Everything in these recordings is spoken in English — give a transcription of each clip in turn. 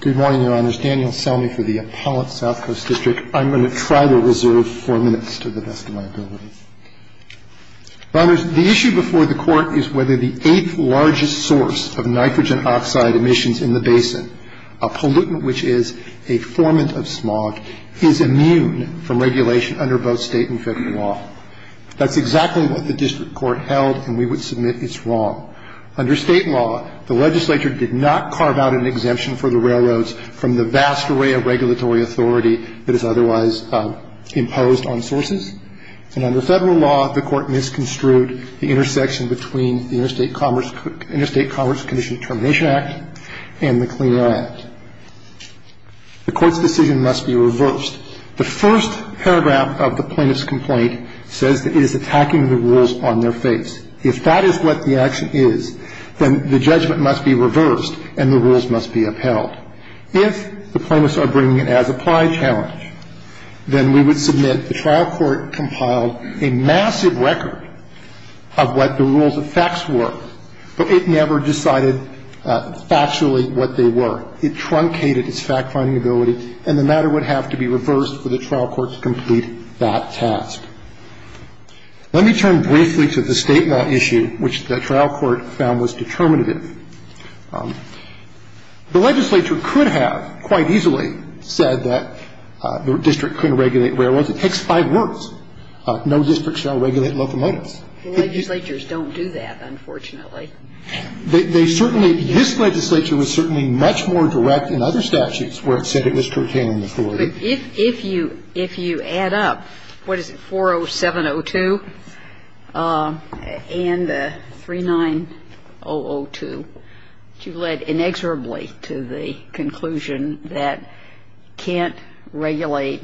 Good morning, your honors. Daniel Selmy for the Appellate South Coast District. I'm going to try to reserve four minutes to the best of my ability. Honors, the issue before the court is whether the eighth largest source of nitrogen oxide emissions in the basin, a pollutant which is a formant of smog, is immune from regulation under both state and federal law. That's exactly what the district court held, and we would submit it's wrong. Under state law, the legislature did not carve out an exemption for the railroads from the vast array of regulatory authority that is otherwise imposed on sources. And under federal law, the court misconstrued the intersection between the Interstate Commerce Commission Termination Act and the Clean Air Act. The court's decision must be reversed. The first paragraph of the plaintiff's complaint says that it is attacking the rules on their face. If that is what the action is, then the judgment must be reversed and the rules must be upheld. If the plaintiffs are bringing it as applied challenge, then we would submit the trial court compiled a massive record of what the rules of facts were, but it never decided factually what they were. It truncated its fact-finding ability, and the matter would have to be reversed for the trial court to complete that task. Let me turn briefly to the state law issue, which the trial court found was determinative. The legislature could have quite easily said that the district couldn't regulate railroads. It takes five words. No district shall regulate locomotives. The legislatures don't do that, unfortunately. They certainly, this legislature was certainly much more direct in other statutes where it said it was curtailing authority. But if you add up, what is it, 40702 and the 39002, you led inexorably to the conclusion that you can't regulate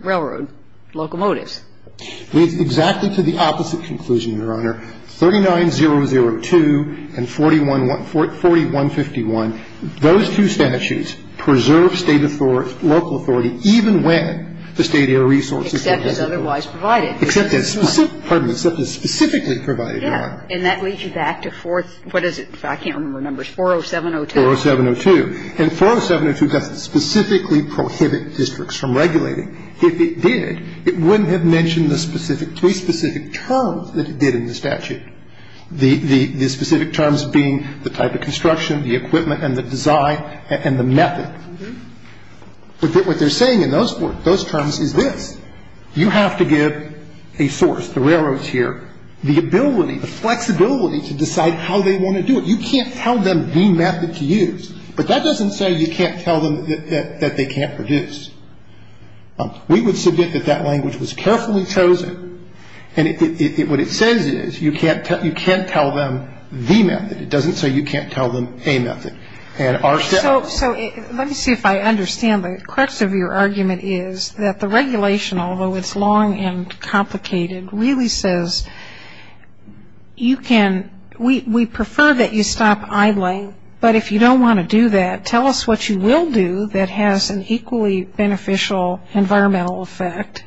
railroad locomotives. It leads exactly to the opposite conclusion, Your Honor. 39002 and 4151, those two statutes preserve state authority, local authority, even when the state air resource is compulsory. Except as otherwise provided. Except as specifically provided, Your Honor. And that leads you back to fourth, what is it, I can't remember the numbers, 40702. 40702. And 40702 doesn't specifically prohibit districts from regulating. If it did, it wouldn't have mentioned the three specific terms that it did in the statute, the specific terms being the type of construction, the equipment and the design and the method. But what they're saying in those terms is this. You have to give a source, the railroads here, the ability, the flexibility to decide how they want to do it. You can't tell them the method to use. But that doesn't say you can't tell them that they can't produce. We would submit that that language was carefully chosen. And what it says is you can't tell them the method. It doesn't say you can't tell them a method. So let me see if I understand. The crux of your argument is that the regulation, although it's long and complicated, really says you can, we prefer that you stop idling, but if you don't want to do that, tell us what you will do that has an equally beneficial environmental effect.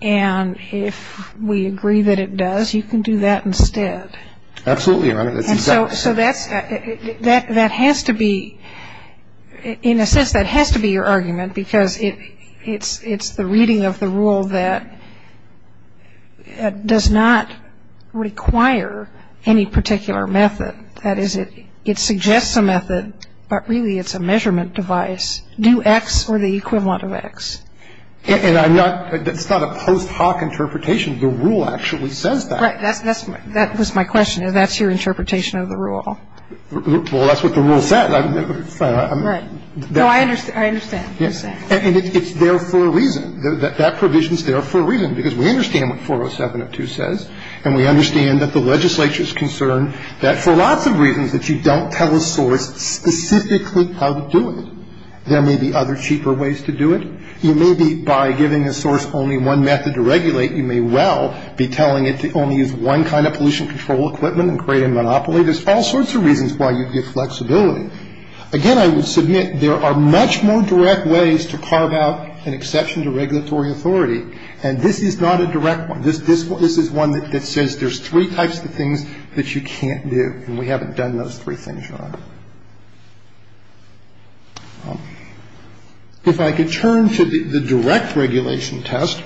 And if we agree that it does, you can do that instead. Absolutely. So that has to be, in a sense, that has to be your argument, because it's the reading of the rule that does not require any particular method. And it's not a post hoc interpretation. The rule actually says that. Right. That was my question. That's your interpretation of the rule. Well, that's what the rule said. Right. No, I understand. I understand. And it's there for a reason. That provision is there for a reason, because we understand what 407 of 2 says, and we understand that the legislature is concerned that for a lot of reasons, There are lots of reasons that you don't tell a source specifically how to do it. There may be other cheaper ways to do it. You may be, by giving a source only one method to regulate, you may well be telling it to only use one kind of pollution control equipment and create a monopoly. There's all sorts of reasons why you'd get flexibility. Again, I would submit there are much more direct ways to carve out an exception to regulatory authority, and this is not a direct one. This is one that says there's three types of things that you can't do, and we haven't done those three things yet. If I could turn to the direct regulation test.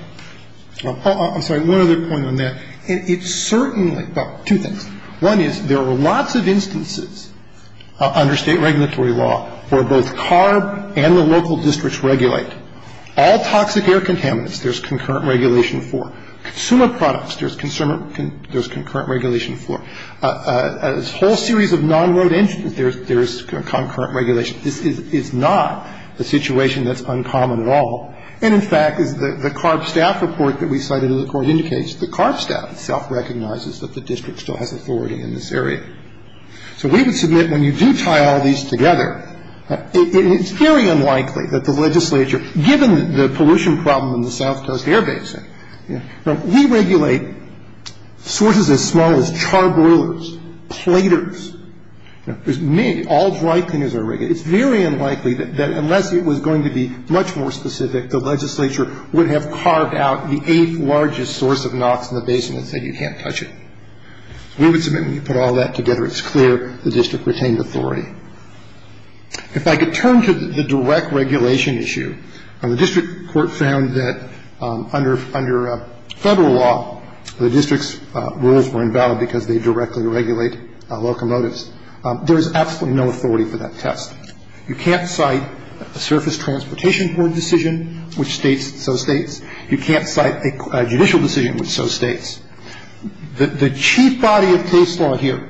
I'm sorry, one other point on that. It's certainly about two things. One is there are lots of instances under state regulatory law where both CARB and the local districts regulate. All toxic air contaminants, there's concurrent regulation for. Consumer products, there's concurrent regulation for. A whole series of non-road entries, there's concurrent regulation. This is not a situation that's uncommon at all. And, in fact, the CARB staff report that we cited in the court indicates the CARB staff itself recognizes that the district still has authority in this area. So we would submit when you do tie all these together, it's very unlikely that the legislature, given the pollution problem in the south coast air basin, we regulate sources as small as charbroilers, platers. There's all dry cleaners that are regulated. It's very unlikely that unless it was going to be much more specific, the legislature would have carved out the eighth largest source of NOx in the basin and said you can't touch it. We would submit when you put all that together, it's clear the district retained authority. If I could turn to the direct regulation issue, the district court found that under federal law, the district's rules were invalid because they directly regulate locomotives. There is absolutely no authority for that test. You can't cite a surface transportation court decision, which states so states. You can't cite a judicial decision, which so states. The chief body of case law here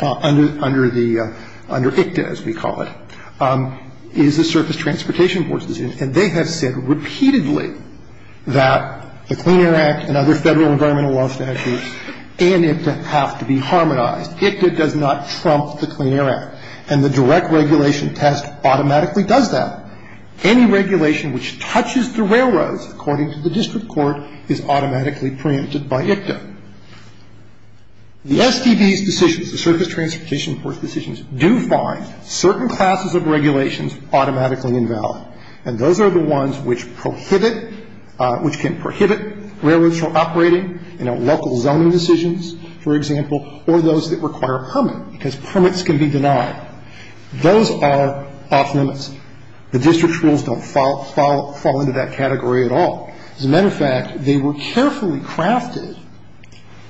under ICTA, as we call it, is the surface transportation court decision. And they have said repeatedly that the Clean Air Act and other federal environmental law statutes and ICTA have to be harmonized. ICTA does not trump the Clean Air Act. And the direct regulation test automatically does that. Any regulation which touches the railroads, according to the district court, is automatically preempted by ICTA. The STD's decisions, the surface transportation court's decisions, do find certain classes of regulations automatically invalid. And those are the ones which prohibit, which can prohibit railroads from operating, you know, local zoning decisions, for example, or those that require a permit, because permits can be denied. Those are off-limits. The district's rules don't fall into that category at all. As a matter of fact, they were carefully crafted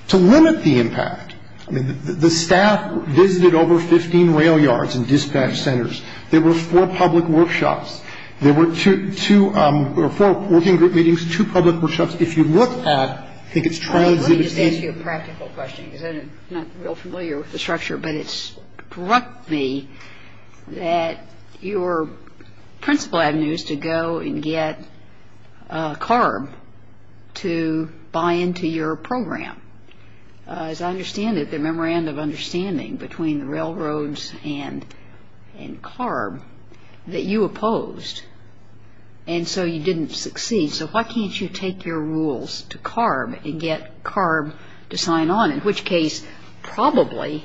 to limit the impact. I mean, the staff visited over 15 rail yards and dispatch centers. There were four public workshops. There were two or four working group meetings, two public workshops. If you look at, I think it's transitive. Let me just ask you a practical question, because I'm not real familiar with the structure. But it struck me that your principal avenue is to go and get CARB to buy into your program. As I understand it, the memorandum of understanding between the railroads and CARB that you opposed, and so you didn't succeed. So why can't you take your rules to CARB and get CARB to sign on, in which case probably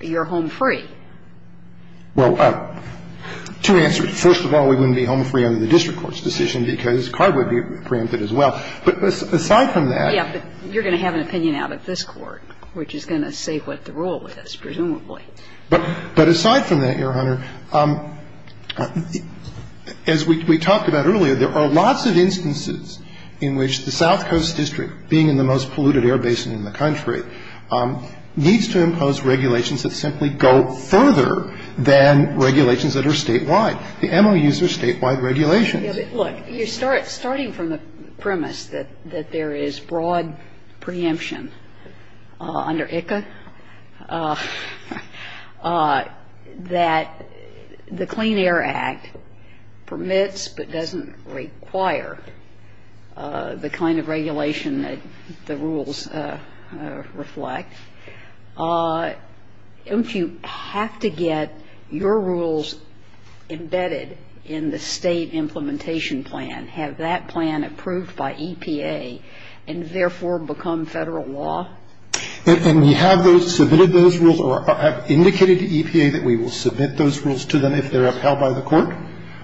you're home free? Well, two answers. First of all, we wouldn't be home free under the district court's decision because CARB would be preempted as well. But aside from that — Yeah, but you're going to have an opinion out of this Court, which is going to say what the rule is, presumably. But aside from that, Your Honor, as we talked about earlier, there are lots of instances in which the South Coast District, being in the most polluted air basin in the country, needs to impose regulations that simply go further than regulations that are statewide. The MOUs are statewide regulations. Look, you're starting from the premise that there is broad preemption under ICA that the Clean Air Act permits but doesn't require the kind of regulation that the rules reflect. If you have to get your rules embedded in the state implementation plan, have that plan approved by EPA and therefore become Federal law? And we have those — submitted those rules or have indicated to EPA that we will submit those rules to them if they're upheld by the Court.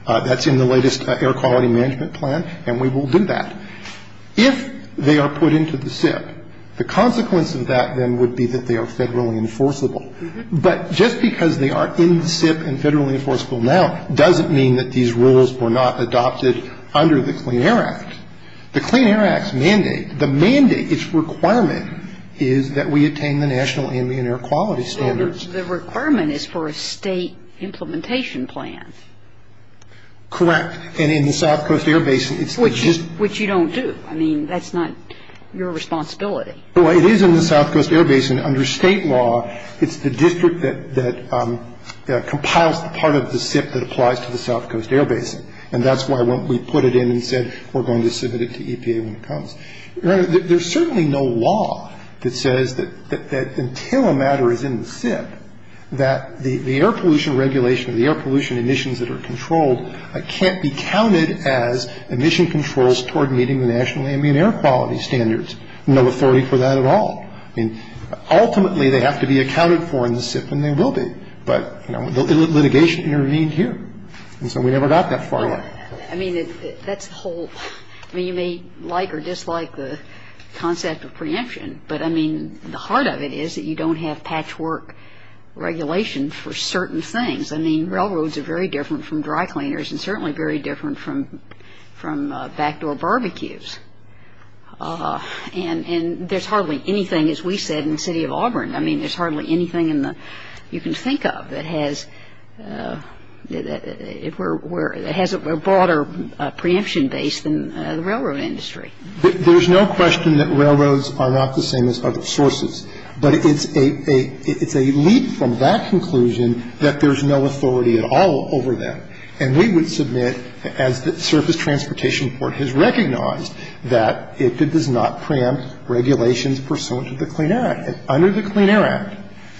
That's in the latest Air Quality Management Plan, and we will do that. If they are put into the SIP, the consequence of that, then, would be that they are federally enforceable. But just because they are in the SIP and federally enforceable now doesn't mean that these rules were not adopted under the Clean Air Act. The Clean Air Act's mandate, the mandate, its requirement is that we attain the national ambient air quality standards. So the requirement is for a state implementation plan? Correct. And in the South Coast Air Basin, it's just — Which you don't do. I mean, that's not your responsibility. Well, it is in the South Coast Air Basin. Under state law, it's the district that compiles the part of the SIP that applies to the South Coast Air Basin. And that's why we put it in and said we're going to submit it to EPA when it comes. Your Honor, there's certainly no law that says that until a matter is in the SIP that the air pollution regulation or the air pollution emissions that are controlled can't be counted as emission controls toward meeting the national ambient air quality standards. No authority for that at all. I mean, ultimately, they have to be accounted for in the SIP, and they will be. But, you know, litigation intervened here. And so we never got that far. I mean, that's a whole — I mean, you may like or dislike the concept of preemption. But, I mean, the heart of it is that you don't have patchwork regulation for certain things. I mean, railroads are very different from dry cleaners and certainly very different from backdoor barbecues. And there's hardly anything, as we said, in the City of Auburn. I mean, there's hardly anything in the — you can think of that has — that has a broader preemption base than the railroad industry. There's no question that railroads are not the same as other sources. But it's a — it's a leap from that conclusion that there's no authority at all over them. And we would submit, as the Surface Transportation Court has recognized, that it does not preempt regulations pursuant to the Clean Air Act. Under the Clean Air Act,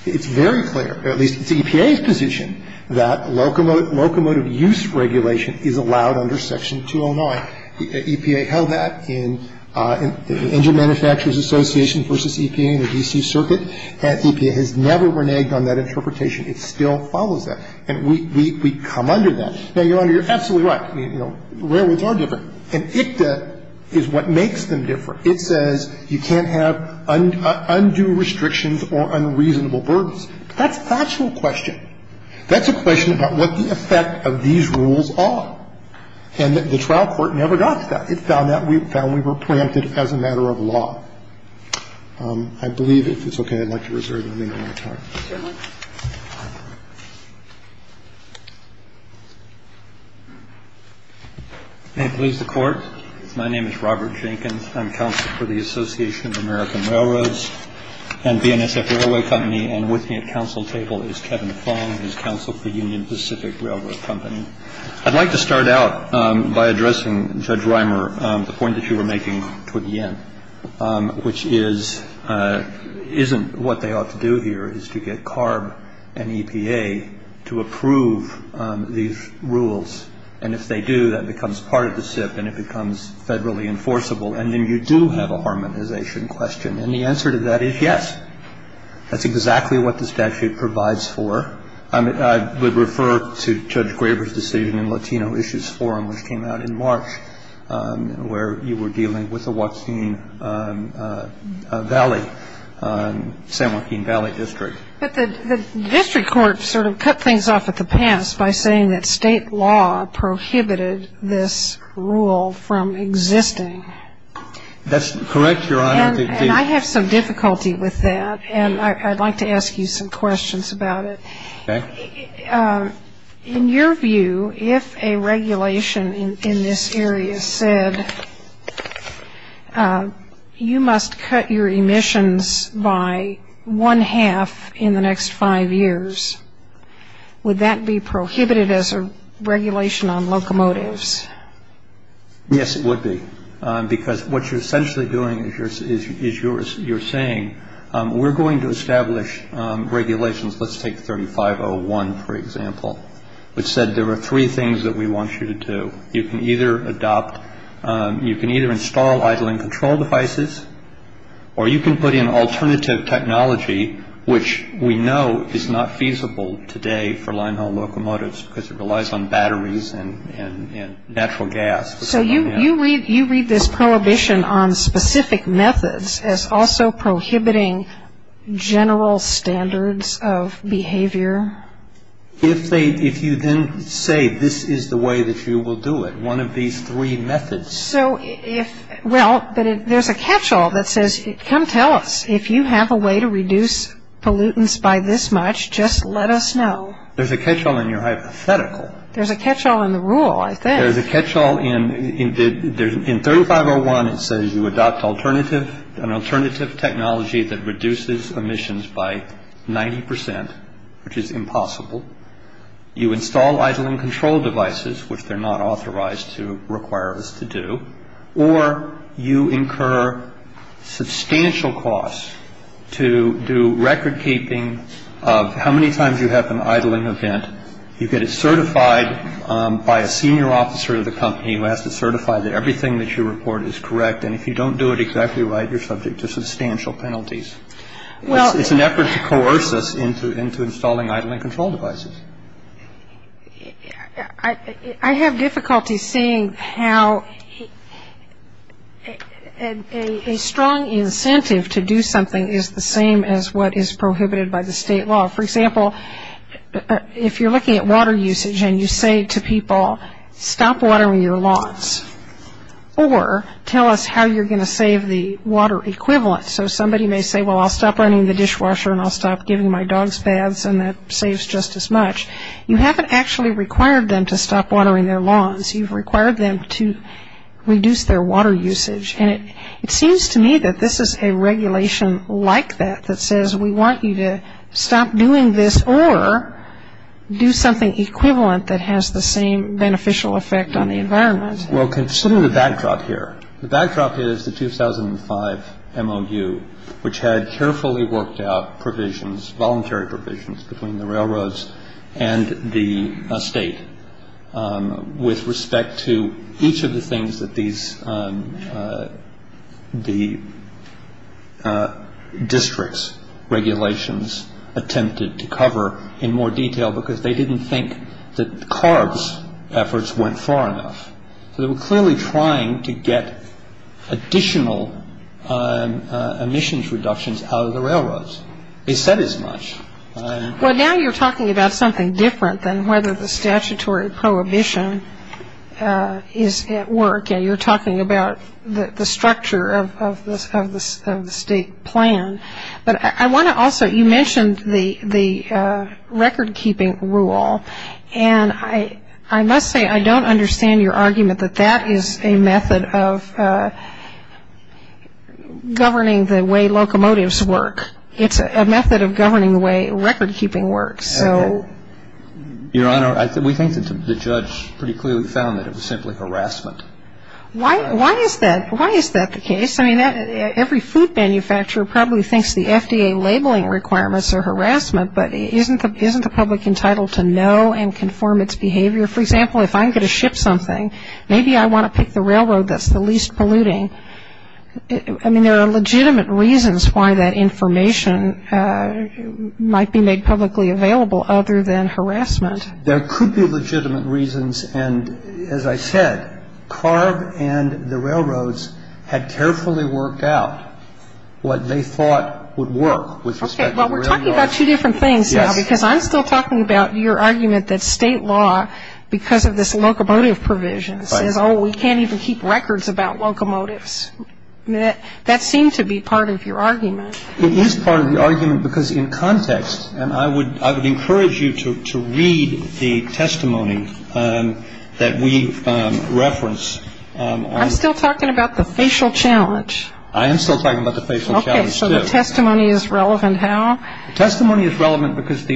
it's very clear, or at least it's EPA's position, that locomotive use regulation is allowed under Section 209. The EPA held that in the Engine Manufacturers Association versus EPA in the D.C. Circuit. And EPA has never reneged on that interpretation. It still follows that. And we — we come under that. Now, Your Honor, you're absolutely right. You know, railroads are different. And ICTA is what makes them different. It says you can't have undue restrictions or unreasonable burdens. That's a factual question. That's a question about what the effect of these rules are. And the trial court never got to that. It found that we — found we were preempted as a matter of law. I believe, if it's okay, I'd like to reserve the remaining time. MS. JANKINS. May it please the Court. My name is Robert Jankins. I'm counsel for the Association of American Railroads and BNSF Railway Company. And with me at counsel table is Kevin Fong. He's counsel for Union Pacific Railroad Company. I'd like to start out by addressing, Judge Reimer, the point that you were making toward the end, which is — isn't what they ought to do here is to get CARB and EPA to approve these rules. And if they do, that becomes part of the SIP and it becomes federally enforceable. And then you do have a harmonization question. And the answer to that is yes. That's exactly what the statute provides for. I would refer to Judge Graber's decision in Latino Issues Forum, which came out in March, where you were dealing with the Waukeen Valley — San Joaquin Valley District. But the district court sort of cut things off at the pass by saying that state law prohibited this rule from existing. That's correct, Your Honor. And I have some difficulty with that. And I'd like to ask you some questions about it. Okay. In your view, if a regulation in this area said you must cut your emissions by one-half in the next five years, would that be prohibited as a regulation on locomotives? Yes, it would be. Because what you're essentially doing is you're saying we're going to establish regulations. Let's take 3501, for example, which said there were three things that we want you to do. You can either adopt — you can either install idling control devices or you can put in alternative technology, which we know is not feasible today for line-haul locomotives because it relies on batteries and natural gas. So you read this prohibition on specific methods as also prohibiting general standards of behavior? If you then say this is the way that you will do it, one of these three methods — So if — well, but there's a catch-all that says, come tell us, if you have a way to reduce pollutants by this much, just let us know. There's a catch-all in your hypothetical. There's a catch-all in the rule, I think. There's a catch-all in 3501. It says you adopt alternative — an alternative technology that reduces emissions by 90 percent, which is impossible. You install idling control devices, which they're not authorized to require us to do. Or you incur substantial costs to do record-keeping of how many times you have an idling event. You get it certified by a senior officer of the company who has to certify that everything that you report is correct. And if you don't do it exactly right, you're subject to substantial penalties. It's an effort to coerce us into installing idling control devices. I have difficulty seeing how a strong incentive to do something is the same as what is prohibited by the state law. For example, if you're looking at water usage and you say to people, stop watering your lawns, or tell us how you're going to save the water equivalent. So somebody may say, well, I'll stop running the dishwasher and I'll stop giving my dogs baths, and that saves just as much. You haven't actually required them to stop watering their lawns. You've required them to reduce their water usage. And it seems to me that this is a regulation like that that says we want you to stop doing this or do something equivalent that has the same beneficial effect on the environment. Well, consider the backdrop here. The backdrop is the 2005 MOU, which had carefully worked out provisions, voluntary provisions between the railroads and the state with respect to each of the things that the district's regulations attempted to cover in more detail because they didn't think that CARB's efforts went far enough. So they were clearly trying to get additional emissions reductions out of the railroads. They said as much. Well, now you're talking about something different than whether the statutory prohibition is at work. You're talking about the structure of the state plan. But I want to also, you mentioned the record-keeping rule, and I must say I don't understand your argument that that is a method of governing the way locomotives work. It's a method of governing the way record-keeping works. Your Honor, we think that the judge pretty clearly found that it was simply harassment. Why is that the case? I mean, every food manufacturer probably thinks the FDA labeling requirements are harassment, but isn't the public entitled to know and conform its behavior? For example, if I'm going to ship something, maybe I want to pick the railroad that's the least polluting. I mean, there are legitimate reasons why that information might be made publicly available other than harassment. There could be legitimate reasons, and as I said, CARB and the railroads had carefully worked out what they thought would work with respect to the railroads. Okay, well, we're talking about two different things now because I'm still talking about your argument that state law, because of this locomotive provision, says, oh, we can't even keep records about locomotives. That seemed to be part of your argument. It is part of the argument because in context, and I would encourage you to read the testimony that we reference. I'm still talking about the facial challenge. I am still talking about the facial challenge, too. Okay, so the testimony is relevant how? The testimony is relevant because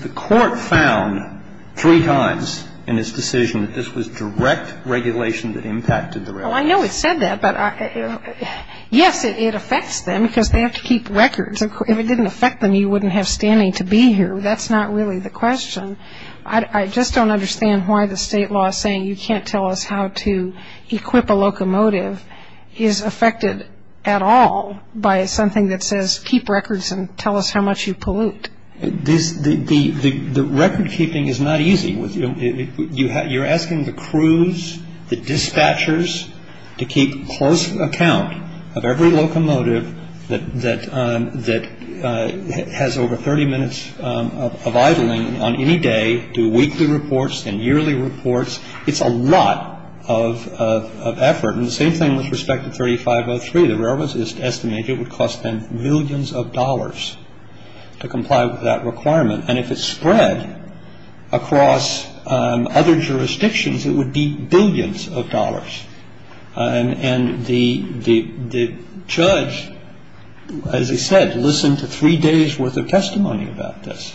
the court found three times in its decision that this was direct regulation that impacted the railroad. Well, I know it said that, but yes, it affects them because they have to keep records. If it didn't affect them, you wouldn't have standing to be here. That's not really the question. I just don't understand why the state law saying you can't tell us how to equip a locomotive is affected at all by something that says keep records and tell us how much you pollute. The record keeping is not easy. You're asking the crews, the dispatchers to keep close account of every locomotive that has over 30 minutes of idling on any day, do weekly reports and yearly reports. It's a lot of effort. And the same thing with respect to 3503. The railroads estimate it would cost them billions of dollars to comply with that requirement. And if it spread across other jurisdictions, it would be billions of dollars. And the judge, as he said, listened to three days' worth of testimony about this.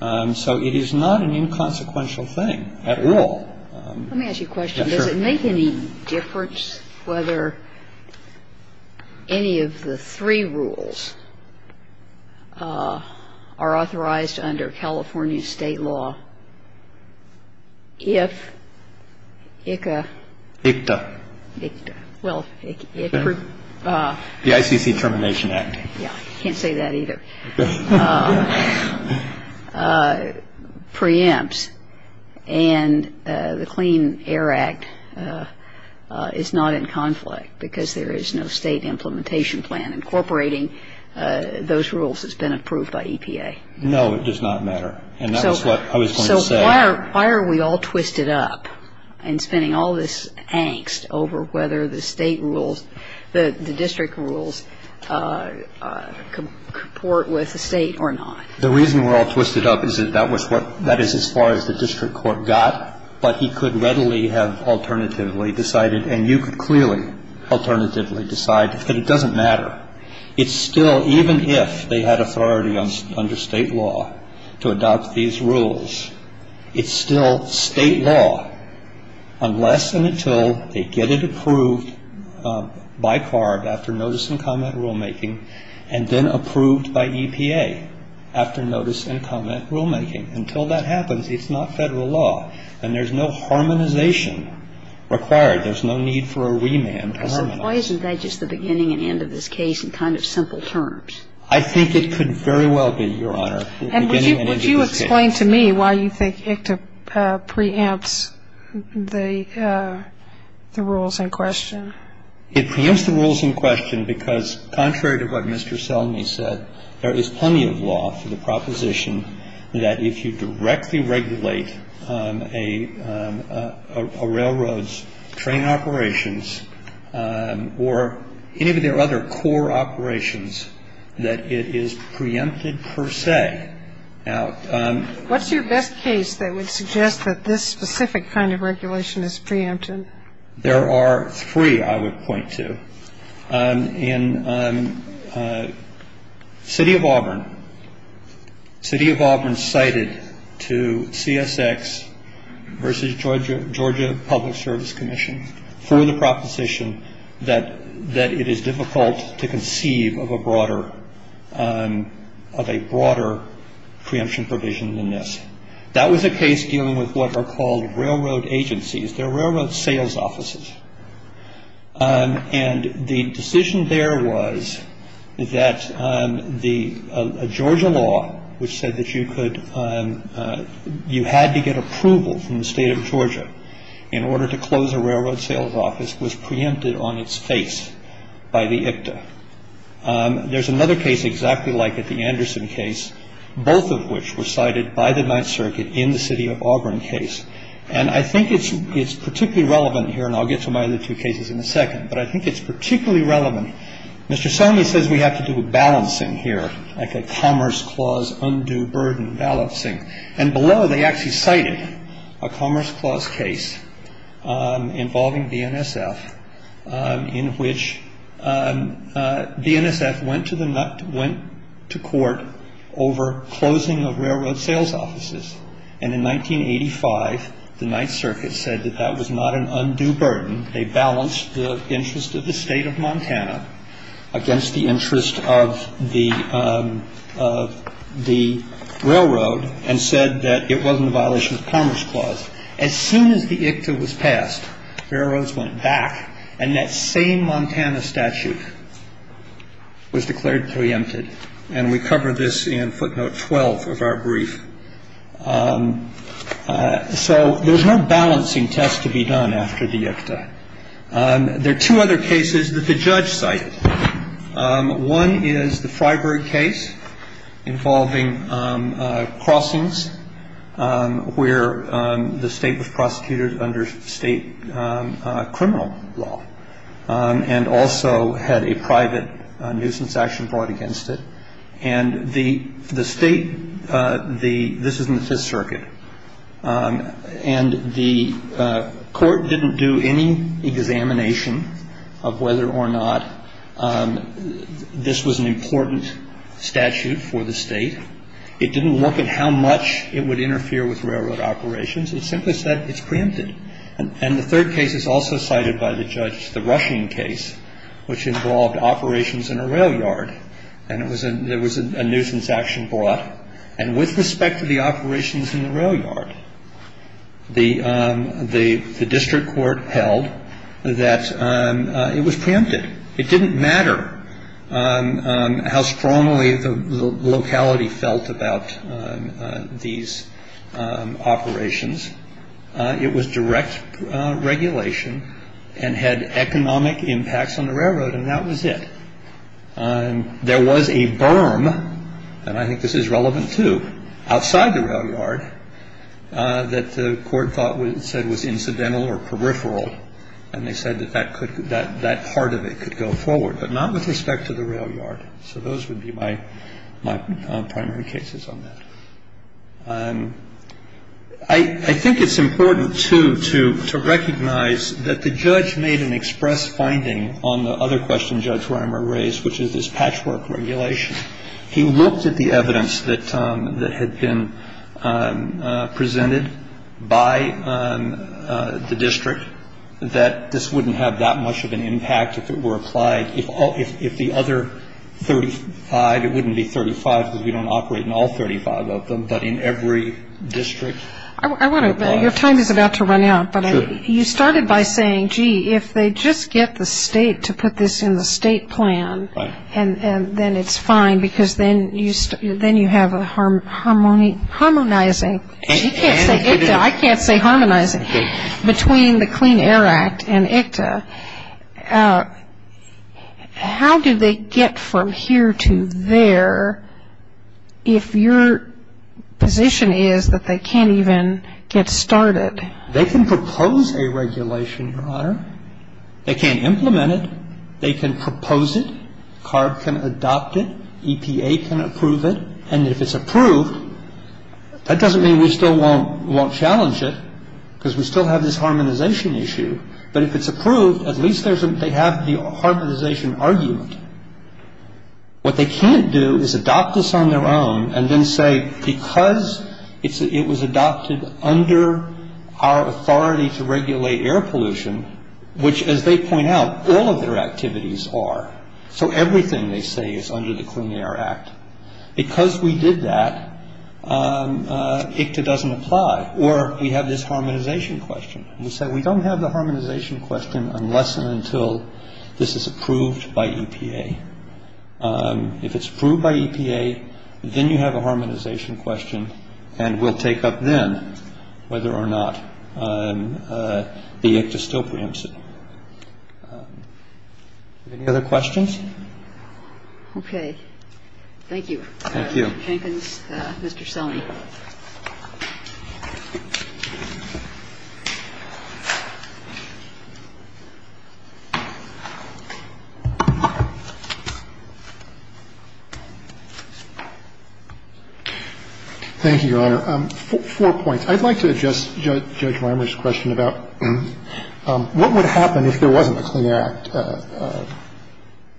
So it is not an inconsequential thing at all. Let me ask you a question. Does it make any difference whether any of the three rules are authorized under California state law if ICTA. Well, the ICC Termination Act. Yeah, I can't say that either. Preempts. And the Clean Air Act is not in conflict because there is no state implementation plan. Incorporating those rules has been approved by EPA. No, it does not matter. And that was what I was going to say. So why are we all twisted up and spending all this angst over whether the state rules, the district rules, comport with the state or not? The reason we're all twisted up is that that was what, that is as far as the district court got, but he could readily have alternatively decided, and you could clearly alternatively decide that it doesn't matter. It's still, even if they had authority under state law to adopt these rules, it's still state law unless and until they get it approved by CARB after notice and comment rulemaking, and then approved by EPA after notice and comment rulemaking. Until that happens, it's not Federal law. And there's no harmonization required. There's no need for a remand. Why isn't that just the beginning and end of this case in kind of simple terms? I think it could very well be, Your Honor, the beginning and end of this case. And I'm going to ask a question. I'm going to ask a question. Explain to me why you think ICTA preempts the rules in question. It preempts the rules in question because, contrary to what Mr. Selmy said, there is plenty of law for the proposition that if you directly regulate a railroad's train operations or any of their other core operations, that it is preempted per se. What's your best case that would suggest that this specific kind of regulation is preempted? There are three, I would point to. In City of Auburn, City of Auburn cited to CSX versus Georgia Public Service Commission for the proposition that it is difficult to conceive of a broader preemption provision than this. That was a case dealing with what are called railroad agencies. They're railroad sales offices. And the decision there was that a Georgia law which said that you had to get approval from the state of Georgia in order to close a railroad sales office was preempted on its face by the ICTA. There's another case exactly like it, the Anderson case, both of which were cited by the Ninth Circuit in the City of Auburn case. And I think it's particularly relevant here, and I'll get to my other two cases in a second, but I think it's particularly relevant. Mr. Selmy says we have to do a balancing here, like a Commerce Clause undue burden balancing. And below they actually cited a Commerce Clause case involving BNSF, in which BNSF went to court over closing of railroad sales offices. And in 1985, the Ninth Circuit said that that was not an undue burden. They balanced the interest of the state of Montana against the interest of the railroad and said that it wasn't a violation of the Commerce Clause. As soon as the ICTA was passed, railroads went back, and that same Montana statute was declared preempted. And we cover this in footnote 12 of our brief. So there's no balancing test to be done after the ICTA. There are two other cases that the judge cited. One is the Freiburg case involving crossings where the state was prosecuted under state criminal law and also had a private nuisance action brought against it. And the state, this is in the Fifth Circuit, and the court didn't do any examination of whether or not this was an important statute for the state. It didn't look at how much it would interfere with railroad operations. It simply said it's preempted. And the third case is also cited by the judge, the Rushing case, which involved operations in a rail yard. And there was a nuisance action brought. And with respect to the operations in the rail yard, the district court held that it was preempted. It didn't matter how strongly the locality felt about these operations. It was direct regulation and had economic impacts on the railroad. And that was it. And there was a berm. And I think this is relevant to outside the rail yard that the court thought was said was incidental or peripheral. And they said that that could that that part of it could go forward, but not with respect to the rail yard. So those would be my primary cases on that. I think it's important, too, to recognize that the judge made an express finding on the other question Judge Reimer raised, which is this patchwork regulation. He looked at the evidence that had been presented by the district that this wouldn't have that much of an impact if it were applied if the other 35, it wouldn't be 35 because we don't operate in all 35 of them, but in every district. I want to your time is about to run out. But you started by saying, gee, if they just get the state to put this in the state plan, and then it's fine because then you then you have a harmony harmonizing. I can't say harmonizing. Between the Clean Air Act and ICTA, how do they get from here to there if your position is that they can't even get started? They can propose a regulation, Your Honor. They can implement it. They can propose it. CARB can adopt it. EPA can approve it. And if it's approved, that doesn't mean we still won't challenge it because we still have this harmonization issue. But if it's approved, at least they have the harmonization argument. What they can't do is adopt this on their own and then say because it was adopted under our authority to regulate air pollution, which, as they point out, all of their activities are. So everything they say is under the Clean Air Act. Because we did that, ICTA doesn't apply. Or we have this harmonization question. We said we don't have the harmonization question unless and until this is approved by EPA. If it's approved by EPA, then you have a harmonization question. And we'll take up then whether or not the ICTA still preempts it. Any other questions? Okay. Thank you. Thank you. Mr. Jenkins. Mr. Selmy. Thank you, Your Honor. Four points. I'd like to adjust Judge Lambert's question about what would happen if there wasn't a Clean Air Act?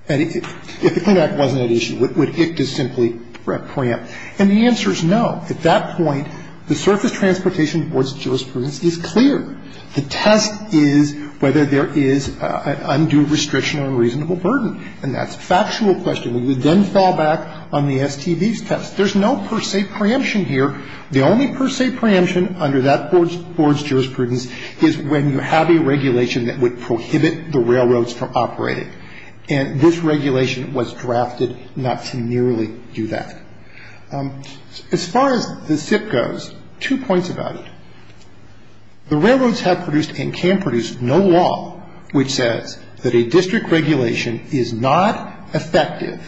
If the Clean Air Act wasn't at issue, would ICTA simply preempt? And the answer is no. At that point, the surface transportation board's jurisprudence is clear. The test is whether there is undue restriction or reasonable burden. And that's a factual question. We would then fall back on the STB's test. There's no per se preemption here. The only per se preemption under that board's jurisprudence is when you have a regulation that would prohibit the railroads from operating. And this regulation was drafted not to nearly do that. As far as the SIP goes, two points about it. The railroads have produced and can produce no law which says that a district regulation is not effective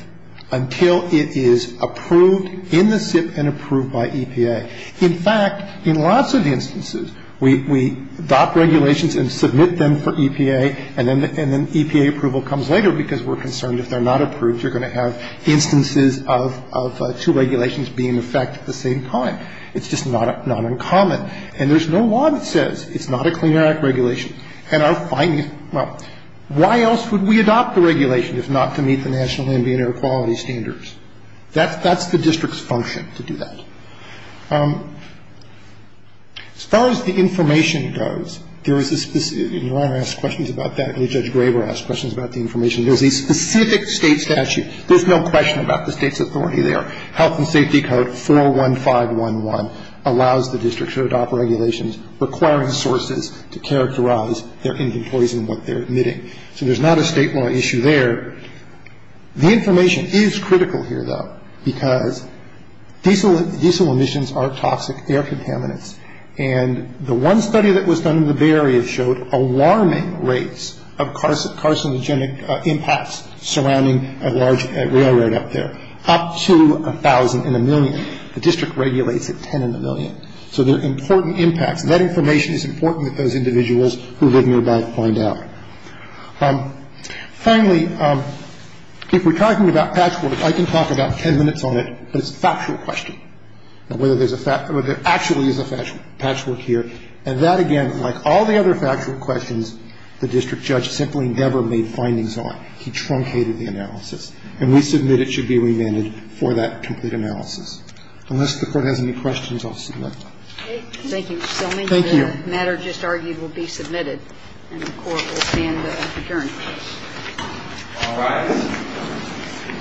until it is approved in the SIP and approved by EPA. In fact, in lots of instances, we adopt regulations and submit them for EPA, and then EPA approval comes later because we're concerned if they're not approved, you're going to have instances of two regulations being in effect at the same time. It's just not uncommon. And there's no law that says it's not a Clean Air Act regulation. And our findings, well, why else would we adopt the regulation if not to meet the national ambient air quality standards? That's the district's function to do that. As far as the information goes, there is a specific, and Your Honor asked questions about that, and Judge Graber asked questions about the information. There's a specific State statute. There's no question about the State's authority there. Health and Safety Code 41511 allows the district to adopt regulations requiring sources to characterize their Indian employees and what they're emitting. So there's not a state law issue there. The information is critical here, though, because diesel emissions are toxic air contaminants. And the one study that was done in the Bay Area showed alarming rates of carcinogenic impacts surrounding a large railroad up there, up to 1,000 in a million. The district regulates at 10 in a million. So there are important impacts. That information is important that those individuals who live nearby find out. Finally, if we're talking about patchwork, I can talk about 10 minutes on it, but it's a factual question, whether there's a fact or whether there actually is a patchwork here. And that, again, like all the other factual questions, the district judge simply never made findings on. He truncated the analysis. And we submit it should be remanded for that complete analysis. Unless the Court has any questions, I'll see you later. Thank you. Thank you. The matter just argued will be submitted, and the Court will stand adjourned. All rise. Thank you. Thank you. Thank you. Thank you.